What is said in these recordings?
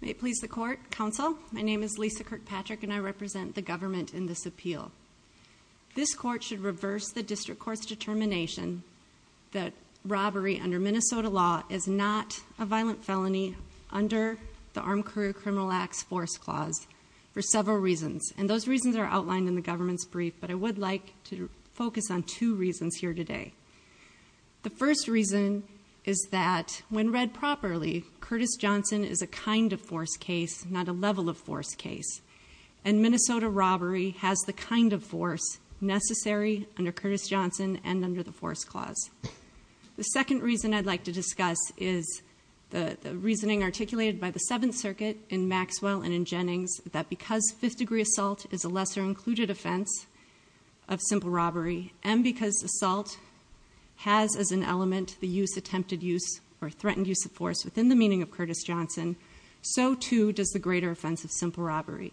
May it please the court, counsel, my name is Lisa Kirkpatrick and I represent the government in this appeal. This court should reverse the district court's determination that robbery under Minnesota law is not a violent felony under the Armed Career Criminal Acts Force Clause for several reasons and those reasons are outlined in the government's brief but I would like to focus on two reasons here today. The first reason is that when read properly, Curtis Johnson is a kind of force case, not a level of force case and Minnesota robbery has the kind of force necessary under Curtis Johnson and under the Force Clause. The second reason I'd like to discuss is the reasoning articulated by the Seventh Circuit in Maxwell and in Jennings that because fifth degree assault is a lesser included offense of simple robbery and because assault has as an element the use attempted use or threatened use of force within the meaning of Curtis Johnson, so too does the greater offense of simple robbery.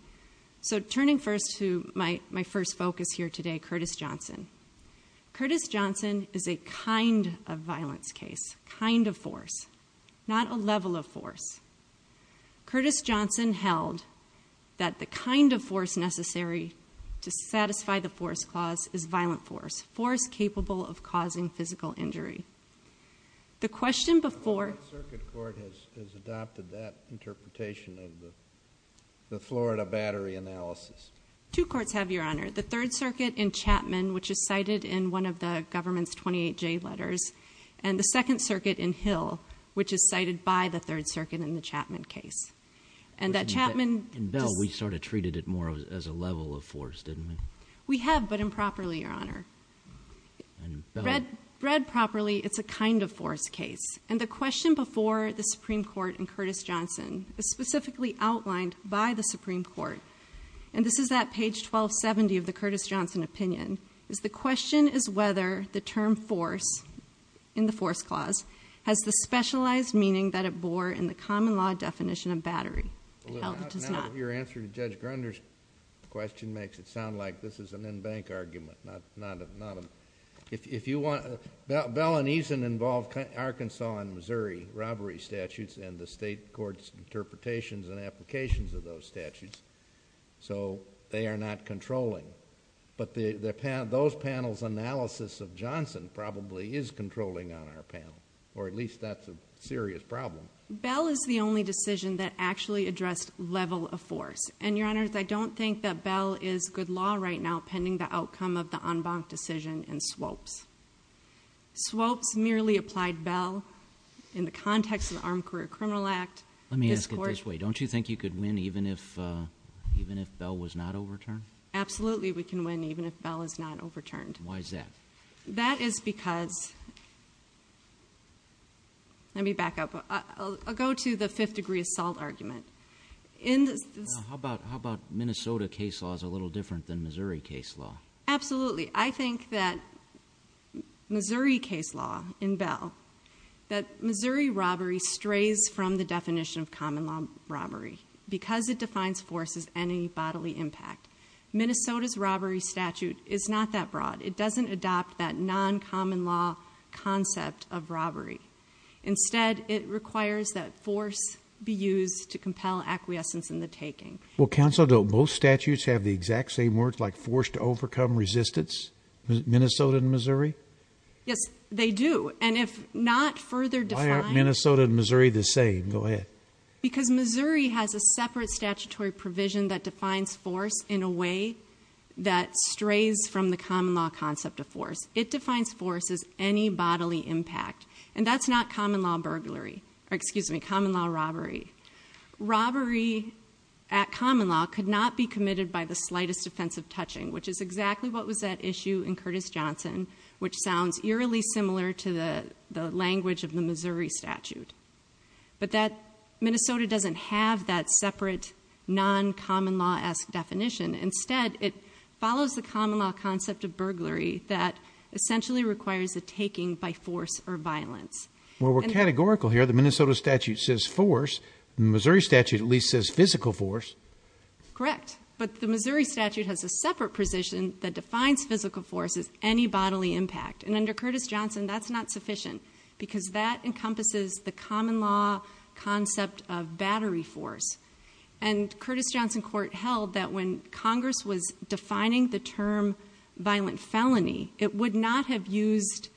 So turning first to my first focus here today, Curtis Johnson. Curtis Johnson is a kind of violence case, kind of force, not a level of force. Curtis Johnson held that the kind of force necessary to satisfy the Force Clause is violent force, force capable of causing physical injury. The question before... The Third Circuit Court has adopted that interpretation of the Florida Battery Analysis. Two courts have, Your Honor. The Third Circuit in Chapman, which is cited in one of the government's 28J letters and the Second Circuit in Hill, which is cited by the Third Circuit in the Chapman case. And that Chapman... In Bell, we sort of treated it more as a level of force, didn't we? We have, but improperly, Your Honor. Read properly, it's a kind of force case. And the question before the Supreme Court in Curtis Johnson is specifically outlined by the Supreme Court, and this is at page 1270 of the Curtis Johnson opinion, is the has the specialized meaning that it bore in the common law definition of battery. It does not. Now, your answer to Judge Grunder's question makes it sound like this is an in-bank argument. If you want... Bell and Eason involve Arkansas and Missouri robbery statutes and the state court's interpretations and applications of those statutes, so they are not controlling. But those panels' analysis of Johnson probably is controlling on our panel, or at least that's a serious problem. Bell is the only decision that actually addressed level of force. And Your Honors, I don't think that Bell is good law right now, pending the outcome of the en banc decision in Swopes. Swopes merely applied Bell in the context of the Armed Career Criminal Act. Let me ask it this way. Don't you think you could win even if Bell was not overturned? Absolutely, we can win even if Bell is not overturned. Why is that? That is because... Let me back up. I'll go to the fifth degree assault argument. How about Minnesota case law is a little different than Missouri case law? Absolutely. I think that Missouri case law in Bell, that Missouri robbery strays from the definition of common law robbery, because it defines force as any bodily impact. Minnesota's robbery statute is not that broad. It doesn't adopt that non-common law concept of robbery. Instead, it requires that force be used to compel acquiescence in the taking. Well, Counsel, don't both statutes have the exact same words, like force to overcome resistance? Minnesota and Missouri? Yes, they do. And if not further defined... Minnesota and Missouri the same. Go ahead. Because Missouri has a separate statutory provision that defines force in a way that strays from the common law concept of force. It defines force as any bodily impact. And that's not common law burglary, or excuse me, common law robbery. Robbery at common law could not be committed by the slightest offense of touching, which is exactly what was at issue in Curtis Johnson, which sounds eerily similar to the language of the Missouri statute. But Minnesota doesn't have that separate, non-common law-esque definition. Instead, it follows the common law concept of burglary that essentially requires a taking by force or violence. Well, we're categorical here. The Minnesota statute says force. The Missouri statute at least says physical force. Correct. But the Missouri statute has a separate provision that defines physical force as any bodily impact. And under Curtis Johnson, that's not sufficient because that encompasses the common law concept of battery force. And Curtis Johnson court held that when Congress was defining the term violent felony, it would not have used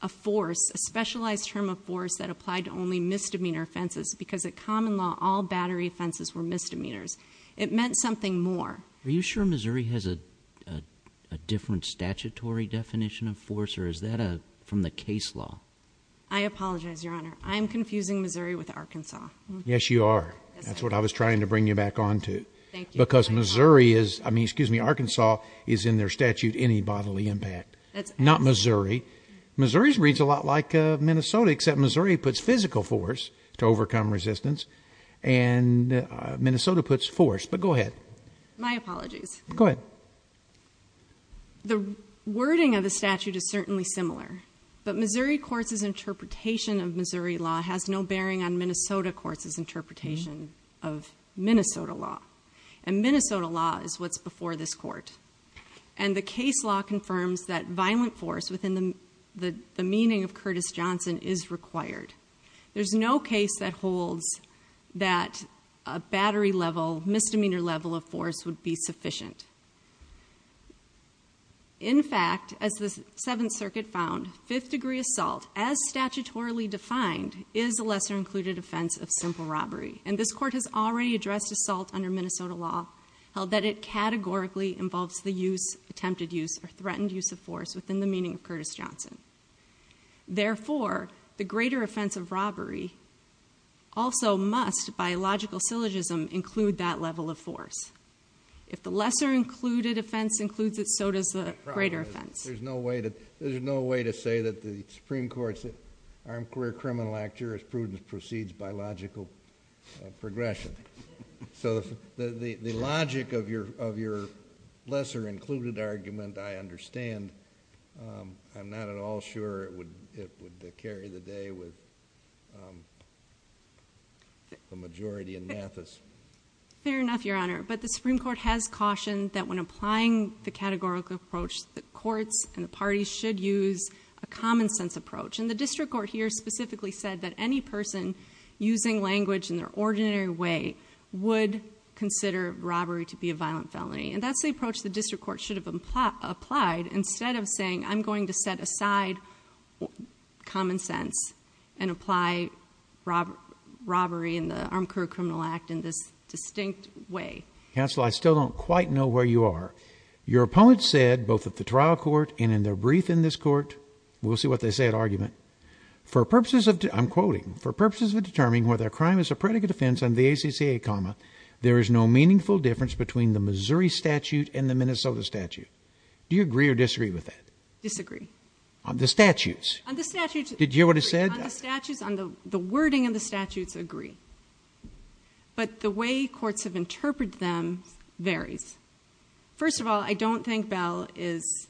a force, a specialized term of force that applied to only misdemeanor offenses because at common law, all battery offenses were misdemeanors. It meant something more. Are you sure Missouri has a different statutory definition of force or is that from the case law? I apologize, Your Honor. I'm confusing Missouri with Arkansas. Yes, you are. That's what I was trying to bring you back on to. Because Missouri is, I mean, excuse me, Arkansas is in their statute any bodily impact. Not Missouri. Missouri's reads a lot like Minnesota, except Missouri puts physical force to overcome resistance and Minnesota puts force, but go ahead. My apologies. Go ahead. The wording of the statute is certainly similar, but Missouri courts' interpretation of Missouri law has no bearing on Minnesota courts' interpretation of Minnesota law. And Minnesota law is what's before this court. And the case law confirms that violent force within the meaning of Curtis Johnson is required. There's no case that holds that a battery level, misdemeanor level of force would be sufficient. In fact, as the Seventh Circuit found, fifth degree assault, as statutorily defined, is a lesser included offense of simple robbery. And this court has already addressed assault under Minnesota law, held that it categorically involves the use, attempted use, or threatened use of force within the meaning of Curtis Johnson. Therefore, the greater offense of robbery also must, by logical syllogism, include that level of force. If the lesser included offense includes it, so does the greater offense. There's no way to say that the Supreme Court's Armed Career Criminal Act jurisprudence precedes biological progression. So the logic of your lesser included argument, I understand. I'm not at all sure it would carry the day with the majority in Mathis. Fair enough, Your Honor. But the Supreme Court has cautioned that when applying the categorical approach, the courts and the parties should use a common sense approach. And the district court here specifically said that any person using language in their ordinary way would consider robbery to be a violent felony. And that's the approach the district court should have applied instead of saying, I'm going to set aside common sense and apply robbery in the Armed Career Criminal Act in this distinct way. Counsel, I still don't quite know where you are. Your opponent said, both at the trial court and in their brief in this court, we'll see what they say at argument, for purposes of, I'm quoting, for purposes of determining whether a crime is a predicate offense under the ACCA, comma, there is no meaningful difference between the Missouri statute and the Minnesota statute. Do you agree or disagree with that? Disagree. On the statutes? On the statutes. Did you hear what he said? On the statutes, on the wording of the statutes, agree. But the way courts have interpreted them varies. First of all, I don't think Bell is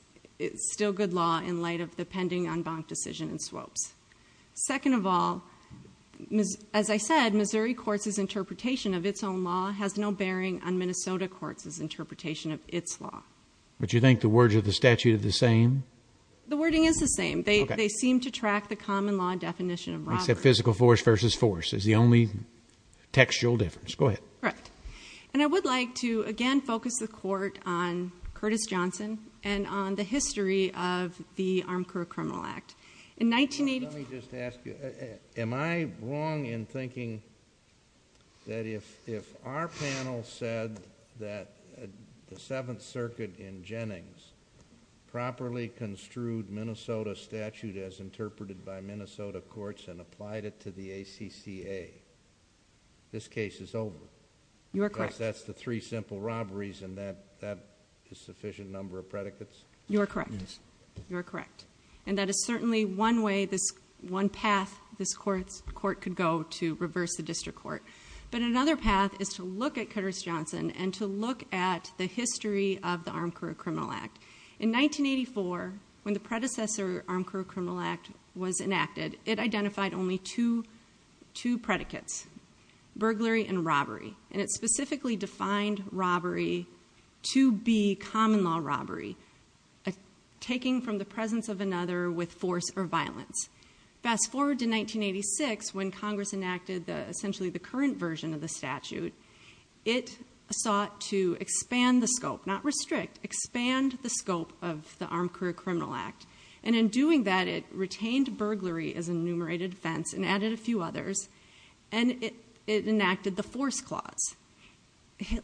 still good law in light of the pending unbound decision and swaps. Second of all, as I said, Missouri courts' interpretation of its own law has no bearing on Minnesota courts' interpretation of its law. But you think the words of the statute are the same? The wording is the same. They seem to track the common law definition of robbery. Except physical force versus force is the only textual difference. Go ahead. Correct. And I would like to, again, focus the court on Curtis Johnson and on the history of the Armed Career Criminal Act. In 1985... Let me just ask you, am I wrong in thinking that if our panel said that the Seventh Circuit in Jennings properly construed Minnesota statute as interpreted by Minnesota courts and applied it to the ACCA, this case is over? You are correct. Because that's the three simple robberies and that is sufficient number of predicates? You are correct. Yes. So that's certainly one way, one path this court could go to reverse the district court. But another path is to look at Curtis Johnson and to look at the history of the Armed Career Criminal Act. In 1984, when the predecessor Armed Career Criminal Act was enacted, it identified only two predicates, burglary and robbery. And it specifically defined robbery to be common law robbery, taking from the presence of another with force or violence. Fast forward to 1986, when Congress enacted essentially the current version of the statute, it sought to expand the scope, not restrict, expand the scope of the Armed Career Criminal Act. And in doing that, it retained burglary as enumerated offense and added a few others. And it enacted the force clause.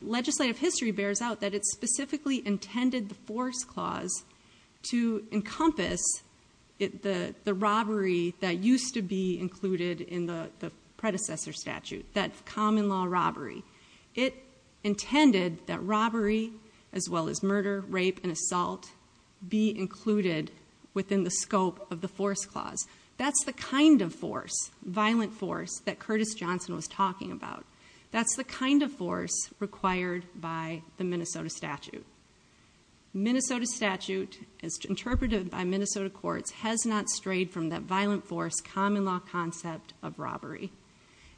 Legislative history bears out that it specifically intended the force clause to encompass the robbery that used to be included in the predecessor statute, that common law robbery. It intended that robbery, as well as murder, rape and assault, be included within the scope of the force clause. That's the kind of force, violent force, that Curtis Johnson was talking about. That's the kind of force required by the Minnesota statute. Minnesota statute, as interpreted by Minnesota courts, has not strayed from that violent force common law concept of robbery.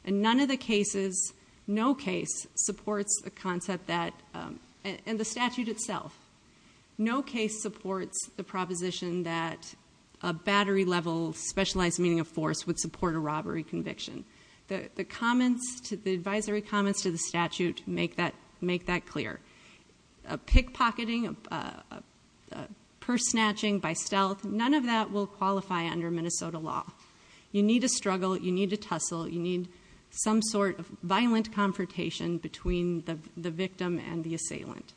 And none of the cases, no case, supports the concept that, and the statute itself, no case supports the proposition that a battery level specialized meaning of force would support a robbery conviction. The advisory comments to the statute make that clear. A pickpocketing, purse snatching by stealth, none of that will qualify under Minnesota law. You need to struggle. You need to tussle. You need some sort of violent confrontation between the victim and the assailant.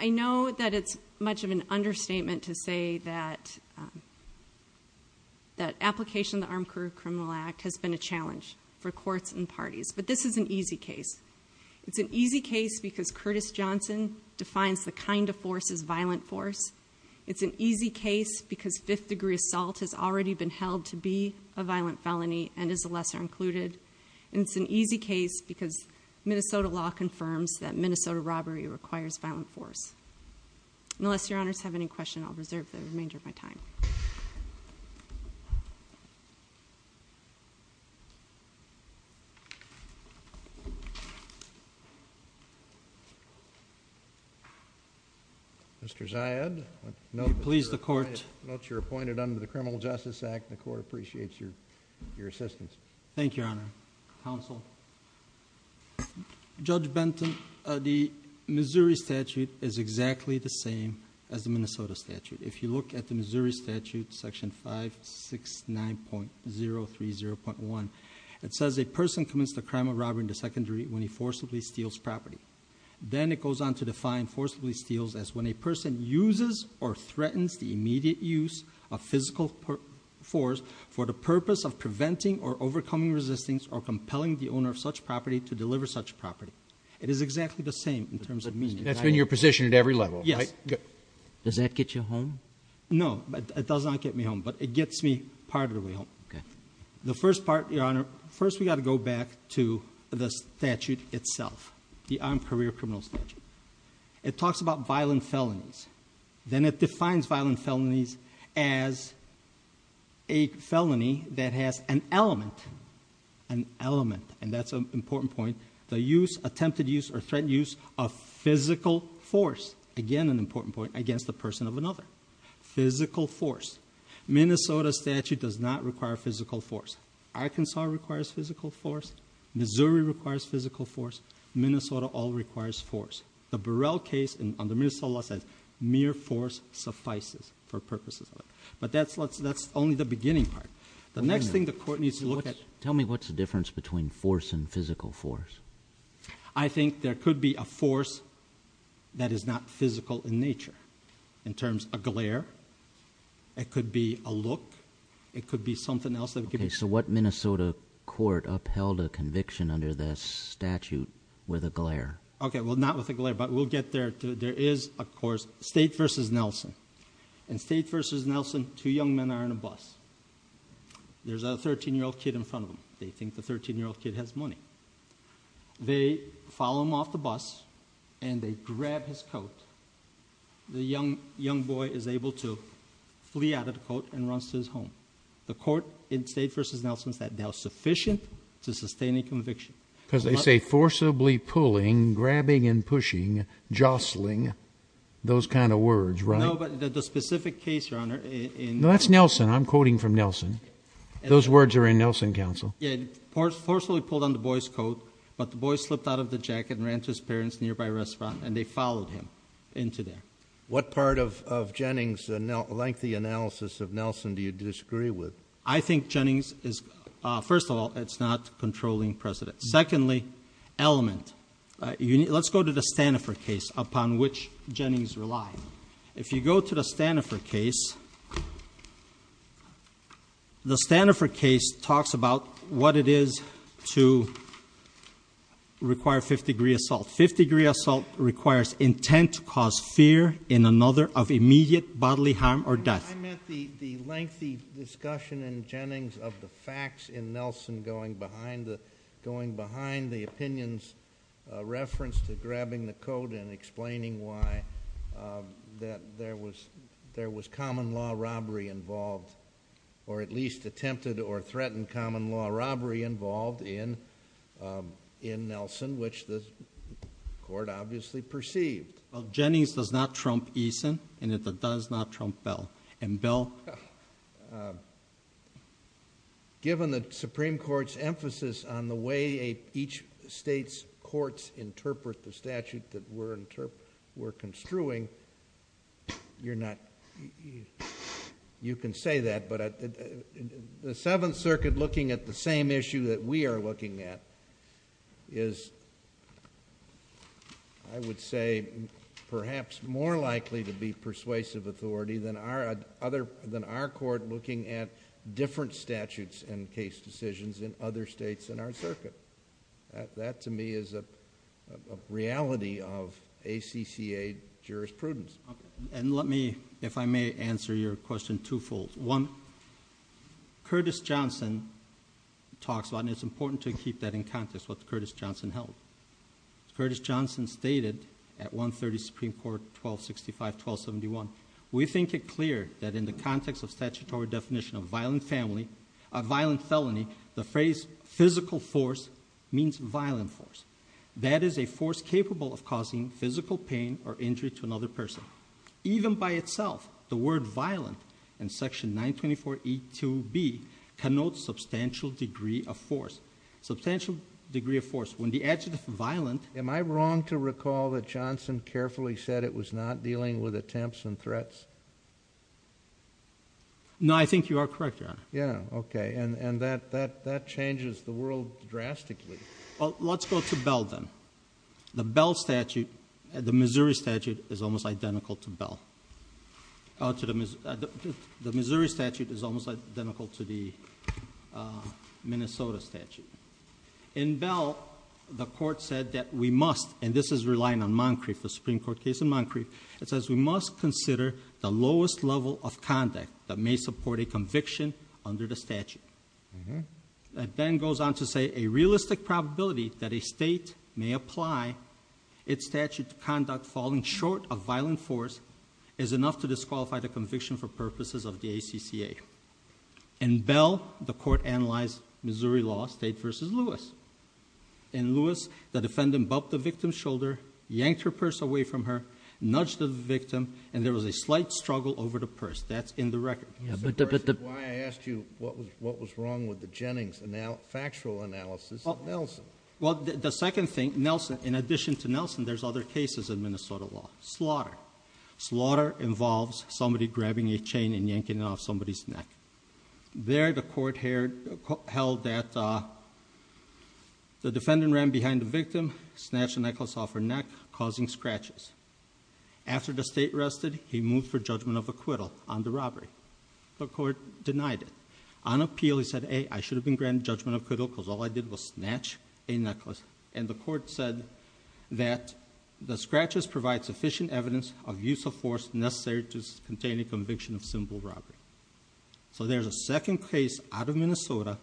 I know that it's much of an understatement to say that application of the Armed Career Criminal Act has been a challenge for courts and parties, but this is an easy case. It's an easy case because Curtis Johnson defines the kind of force as violent force. It's an easy case because fifth degree assault has already been held to be a violent felony and is a lesser included. And it's an easy case because Minnesota law confirms that Minnesota robbery requires violent force. Unless your honors have any questions, I'll reserve the remainder of my time. Mr. Ziad, I note that you're appointed under the Criminal Justice Act and the court appreciates your assistance. Thank you, Your Honor. Counsel, Judge Benton, the Missouri statute is exactly the same as the Minnesota statute. If you look at the Missouri statute, section 569.030.1, it says a person commits the crime of robbery in the secondary when he forcibly steals property. Then it goes on to define forcibly steals as when a person uses or threatens the immediate use of physical force for the purpose of preventing or overcoming resistance or compelling the owner of such property to deliver such property. It is exactly the same in terms of meaning. That's been your position at every level, right? Yes. Does that get you home? No, but it does not get me home, but it gets me part of the way home. The first part, Your Honor, first we got to go back to the statute itself, the Armed Career Criminal Statute. It talks about violent felonies. Then it defines violent felonies as a felony that has an element, an element, and that's an important point, the use, attempted use, or threat use of physical force, again an important point, against the person of another. Physical force. Minnesota statute does not require physical force. Arkansas requires physical force. Missouri requires physical force. Minnesota all requires force. The Burrell case on the Minnesota side, mere force suffices for purposes of it, but that's only the beginning part. The next thing the court needs to look at... Tell me what's the difference between force and physical force. I think there could be a force that is not physical in nature, in terms of glare. It could be a look. It could be something else. Okay, so what Minnesota court upheld a conviction under this statute with a glare? Okay, well, not with a glare, but we'll get there. There is, of course, State v. Nelson. In State v. Nelson, two young men are on a bus. There's a 13-year-old kid in front of them. They think the 13-year-old kid has money. They follow him off the bus, and they grab his coat. The young boy is able to flee out of the coat and runs to his home. The court in State v. Nelson said they are sufficient to sustain a conviction. Because they say forcibly pulling, grabbing and pushing, jostling, those kind of words, right? No, but the specific case, Your Honor, in... No, that's Nelson. I'm quoting from Nelson. Those words are in Nelson counsel. Yeah, forcibly pulled on the boy's coat, but the boy slipped out of the jacket and ran to his parents' nearby restaurant, and they followed him into there. What part of Jennings' lengthy analysis of Nelson do you disagree with? I think Jennings is... first of all, it's not controlling precedent. Secondly, element. Let's go to the Stanifor case upon which Jennings relied. If you go to the Stanifor case, the Stanifor case talks about what it is to require fifth-degree assault. Fifth-degree assault requires intent to cause fear in another of immediate bodily harm or death. I meant the lengthy discussion in Jennings of the facts in Nelson going behind the opinions referenced to grabbing the coat and explaining why there was common law robbery involved, or at least attempted or threatened common law robbery involved in Nelson, which the court obviously perceived. Well, Jennings does not trump Eason, and it does not trump Bell, and Bell... Given the Supreme Court's emphasis on the way each state's courts interpret the statute that we're construing, you're not... you can say that, but the Seventh Circuit looking at the same issue that we are looking at is, I would say, perhaps more likely to be persuasive authority than our court looking at different statutes and case decisions in other states in our circuit. That to me is a reality of ACCA jurisprudence. Let me, if I may, answer your question twofold. One, Curtis Johnson talks about, and it's important to keep that in context, what Curtis Johnson held. Curtis Johnson stated at 130 Supreme Court 1265-1271, we think it clear that in the context of statutory definition of violent felony, the phrase physical force means violent force. That is a force capable of causing physical pain or injury to another person. Even by itself, the word violent in section 924E2B connotes substantial degree of force. Substantial degree of force. When the adjective violent... Am I wrong to recall that Johnson carefully said it was not dealing with attempts and threats? No, I think you are correct, Your Honor. Yeah. Okay. And that changes the world drastically. Well, let's go to Bell then. The Bell statute, the Missouri statute, is almost identical to Bell. The Missouri statute is almost identical to the Minnesota statute. In Bell, the court said that we must, and this is relying on Moncrief, the Supreme Court case in Moncrief, it says we must consider the lowest level of conduct that may support a conviction under the statute. That then goes on to say a realistic probability that a state may apply its statute to conduct falling short of violent force is enough to disqualify the conviction for purposes of the ACCA. In Bell, the court analyzed Missouri law, State v. Lewis. In Lewis, the defendant bumped the victim's shoulder, yanked her purse away from her, nudged the victim, and there was a slight struggle over the purse. That's in the record. That's why I asked you what was wrong with the Jennings factual analysis of Nelson. Well, the second thing, Nelson, in addition to Nelson, there's other cases in Minnesota law. Slaughter. Slaughter involves somebody grabbing a chain and yanking it off somebody's neck. There, the court held that the defendant ran behind the victim, snatched the necklace off her neck, causing scratches. After the state rested, he moved for judgment of acquittal on the robbery. The court denied it. On appeal, he said, A, I should have been granted judgment of acquittal because all I did was snatch a necklace. And the court said that the scratches provide sufficient evidence of use of force necessary to contain a conviction of simple robbery. So there's a second case out of Minnesota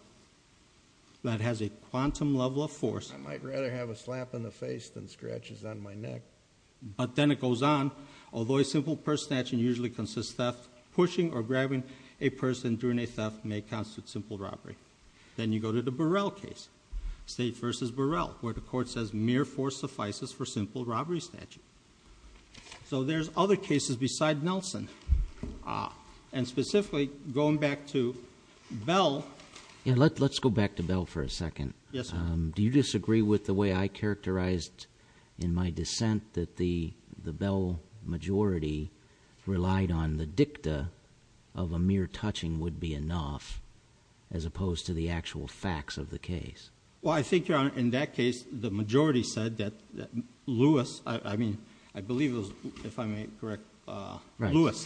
that has a quantum level of force. I might rather have a slap in the face than scratches on my neck. But then it goes on. Although a simple purse snatching usually consists of pushing or grabbing a person during a theft, may constitute simple robbery. Then you go to the Burrell case, State v. Burrell, where the court says mere force suffices for simple robbery snatching. So there's other cases beside Nelson. And specifically, going back to Bell. Let's go back to Bell for a second. Yes, sir. Do you disagree with the way I characterized in my dissent that the Bell majority relied on the dicta of a mere touching would be enough as opposed to the actual facts of the case? Well, I think, Your Honor, in that case, the majority said that Lewis, I mean, I believe it was, if I may correct, Lewis,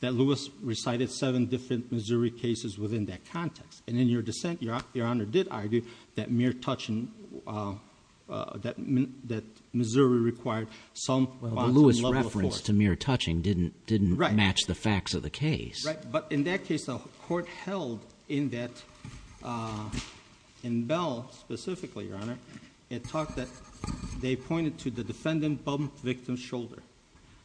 that Lewis recited seven different Missouri cases within that context. And in your dissent, Your Honor, did argue that mere touching, that Missouri required some quantum level of force. Well, the Lewis reference to mere touching didn't match the facts of the case. Right. But in that case, the court held in that, in Bell specifically, Your Honor, it talked that they pointed to the defendant bumped victim's shoulder.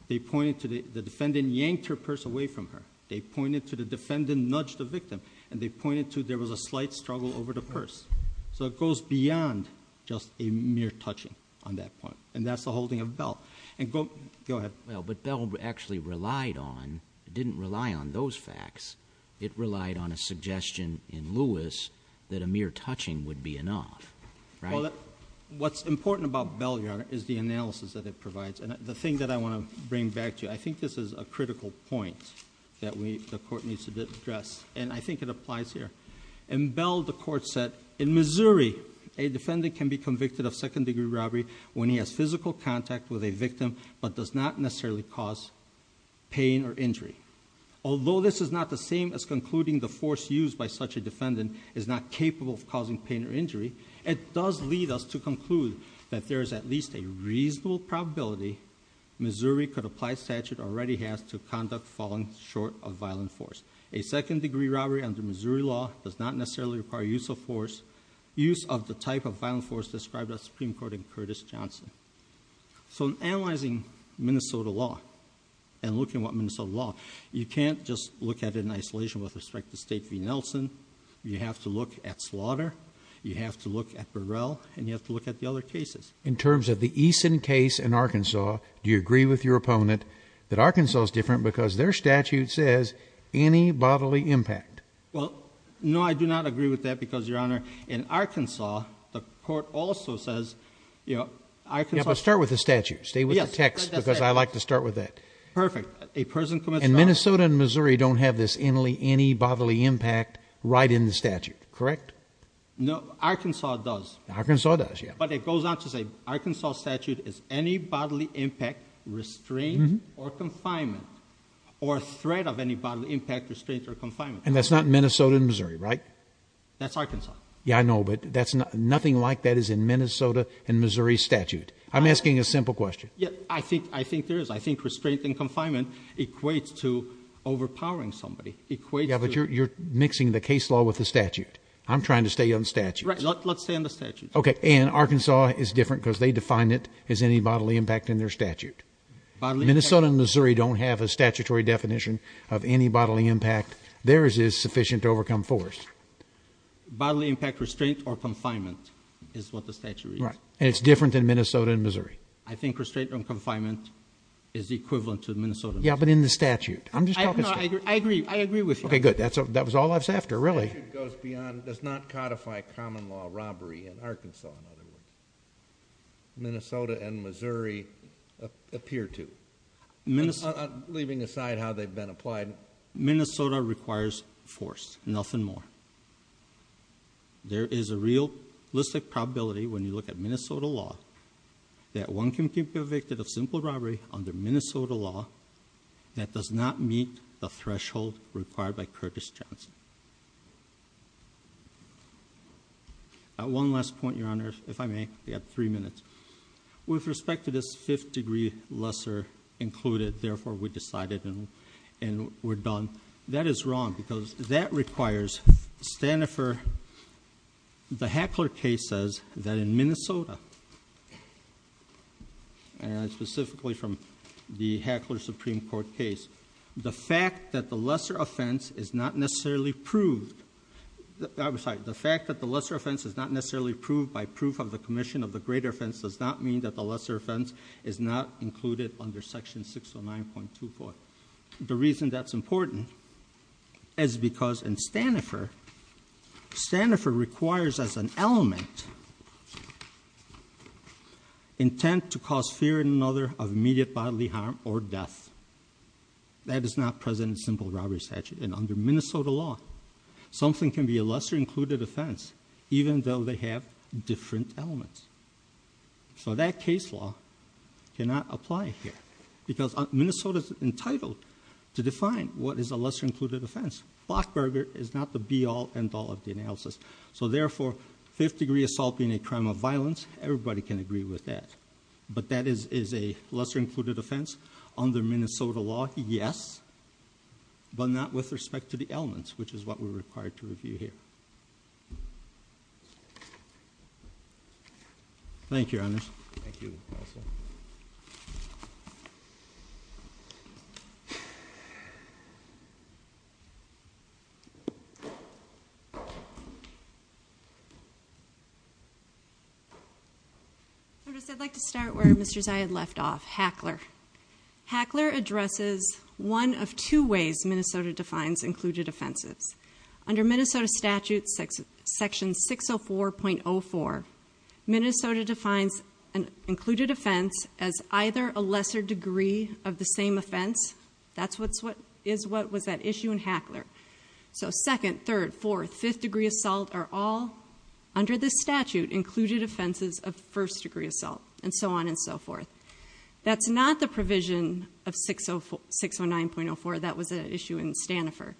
They pointed to the defendant yanked her purse away from her. They pointed to the defendant nudged the victim. And they pointed to there was a slight struggle over the purse. So it goes beyond just a mere touching on that point. And that's the holding of Bell. And go ahead. Well, but Bell actually relied on, didn't rely on those facts. It relied on a suggestion in Lewis that a mere touching would be enough. Right. Well, what's important about Bell, Your Honor, is the analysis that it provides. And the thing that I want to bring back to you, I think this is a critical point that we, the court needs to address. And I think it applies here. In Bell, the court said, in Missouri, a defendant can be convicted of second-degree robbery when he has physical contact with a victim but does not necessarily cause pain or injury. Although this is not the same as concluding the force used by such a defendant is not capable of causing pain or injury, it does lead us to conclude that there is at least a reasonable probability Missouri could apply statute already has to conduct falling short of violent force. A second-degree robbery under Missouri law does not necessarily require use of force, use of the type of violent force described by the Supreme Court in Curtis Johnson. So in analyzing Minnesota law and looking at what Minnesota law, you can't just look at it in isolation with respect to State v. Nelson. You have to look at slaughter. You have to look at Burrell. And you have to look at the other cases. In terms of the Eason case in Arkansas, do you agree with your opponent that Arkansas is different because their statute says any bodily impact? Well, no, I do not agree with that because, Your Honor, in Arkansas, the court also says, you know, Arkansas... Yeah, but start with the statute. Stay with the text because I like to start with that. Perfect. A person commits... And Minnesota and Missouri don't have this any bodily impact right in the statute, correct? No, Arkansas does. Arkansas does, yeah. But it goes on to say, Arkansas statute is any bodily impact, restraint, or confinement, or threat of any bodily impact, restraint, or confinement. And that's not Minnesota and Missouri, right? That's Arkansas. Yeah, I know, but nothing like that is in Minnesota and Missouri statute. I'm asking a simple question. I think there is. I think restraint and confinement equates to overpowering somebody, equates to... Yeah, but you're mixing the case law with the statute. I'm trying to stay on the statute. Let's stay on the statute. Okay, and Arkansas is different because they define it as any bodily impact in their statute. Minnesota and Missouri don't have a statutory definition of any bodily impact. Theirs is sufficient to overcome force. Bodily impact, restraint, or confinement is what the statute is. Right. And it's different than Minnesota and Missouri. I think restraint and confinement is equivalent to Minnesota and Missouri. Yeah, but in the statute. I'm just talking... No, I agree. I agree with you. Okay, good. That was all I was after, really. The statute goes beyond, does not codify common law robbery in Arkansas, in other words. Minnesota and Missouri appear to. Leaving aside how they've been applied. Minnesota requires force, nothing more. There is a realistic probability when you look at Minnesota law that one can be convicted of simple robbery under Minnesota law that does not meet the threshold required by Curtis Johnson. One last point, Your Honor, if I may. We have three minutes. With respect to this fifth degree lesser included, therefore we decided and we're done. That is wrong because that requires standoffer. The Hackler case says that in Minnesota, specifically from the Hackler Supreme Court case, the fact that the lesser offense is not necessarily proved, I'm sorry, the fact that the lesser offense is not necessarily proved by proof of the commission of the greater offense does not mean that the lesser offense is not included under section 609.24. The reason that's important is because in standoffer, standoffer requires as an element intent to cause fear in another of immediate bodily harm or death. That is not present in simple robbery statute and under Minnesota law, something can be a lesser included offense even though they have different elements. So that case law cannot apply here because Minnesota's entitled to define what is a lesser included offense. Blockburger is not the be-all end-all of the analysis. So therefore, fifth degree assault being a crime of violence, everybody can agree with that. But that is a lesser included offense under Minnesota law, yes, but not with respect to the elements, which is what we're required to review here. Thank you, Your Honor. Thank you, counsel. I'd like to start where Mr. Zia had left off, Hackler. Hackler addresses one of two ways Minnesota defines included offenses. Under Minnesota statute section 604.04, Minnesota defines an included offense as either a lesser degree of the same offense. That's what is what was at issue in Hackler. So second, third, fourth, fifth degree assault are all under this statute included offenses of first degree assault and so on and so forth. That's not the provision of 609.04. That was an issue in standoffer.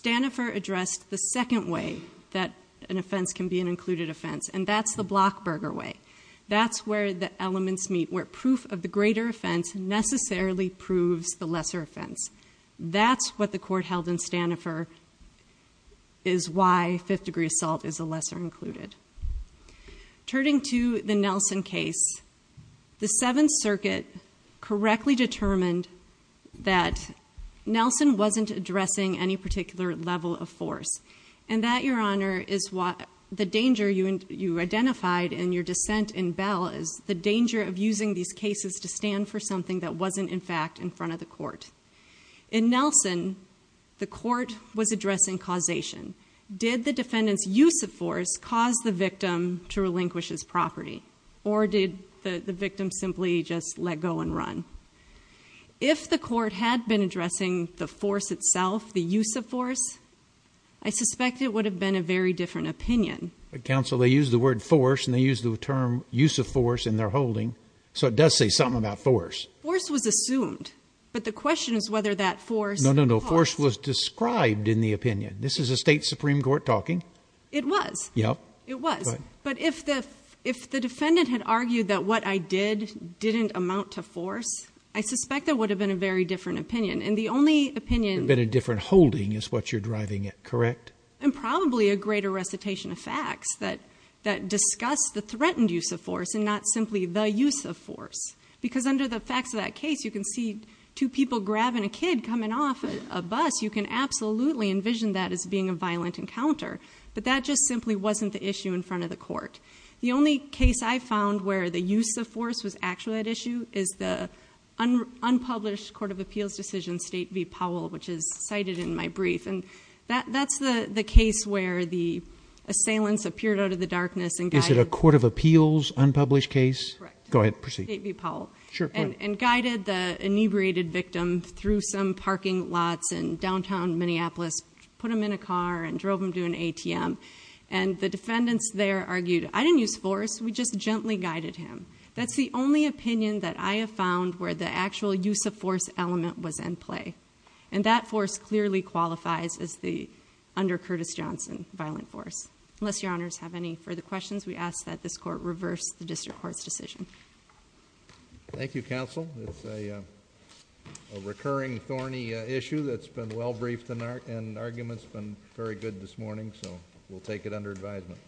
Standoffer addressed the second way that an offense can be an included offense, and that's the Blockburger way. That's where the elements meet, where proof of the greater offense necessarily proves the lesser offense. That's what the court held in standoffer is why fifth degree assault is a lesser included. Turning to the Nelson case, the Seventh Circuit correctly determined that Nelson wasn't addressing any particular level of force, and that, Your Honor, is why the danger you identified in your dissent in Bell is the danger of using these cases to stand for something that wasn't in fact in front of the court. In Nelson, the court was addressing causation. Did the defendant's use of force cause the victim to relinquish his property? Or did the victim simply just let go and run? If the court had been addressing the force itself, the use of force, I suspect it would have been a very different opinion. But, counsel, they used the word force, and they used the term use of force in their holding, so it does say something about force. Force was assumed, but the question is whether that force caused— No, no, no. Force was described in the opinion. This is a state Supreme Court talking. It was. Yeah. It was. But if the defendant had argued that what I did didn't amount to force, I suspect that would have been a very different opinion. And the only opinion— It would have been a different holding is what you're driving at, correct? And probably a greater recitation of facts that discuss the threatened use of force and not simply the use of force. Because under the facts of that case, you can see two people grabbing a kid coming off a bus. You can absolutely envision that as being a violent encounter. But that just simply wasn't the issue in front of the court. The only case I found where the use of force was actually at issue is the unpublished Court of Appeals decision, State v. Powell, which is cited in my brief. And that's the case where the assailants appeared out of the darkness and guided— Is it a Court of Appeals unpublished case? Correct. Go ahead. Proceed. State v. Powell. Sure. And guided the inebriated victim through some parking lots in downtown Minneapolis, put him in a car, and drove him to an ATM. And the defendants there argued, I didn't use force, we just gently guided him. That's the only opinion that I have found where the actual use of force element was in play. And that force clearly qualifies as the, under Curtis Johnson, violent force. Unless Your Honors have any further questions, we ask that this Court reverse the District Court's decision. Thank you, Counsel. It's a recurring thorny issue that's been well-briefed and argument's been very good this morning, so we'll take it under advisement.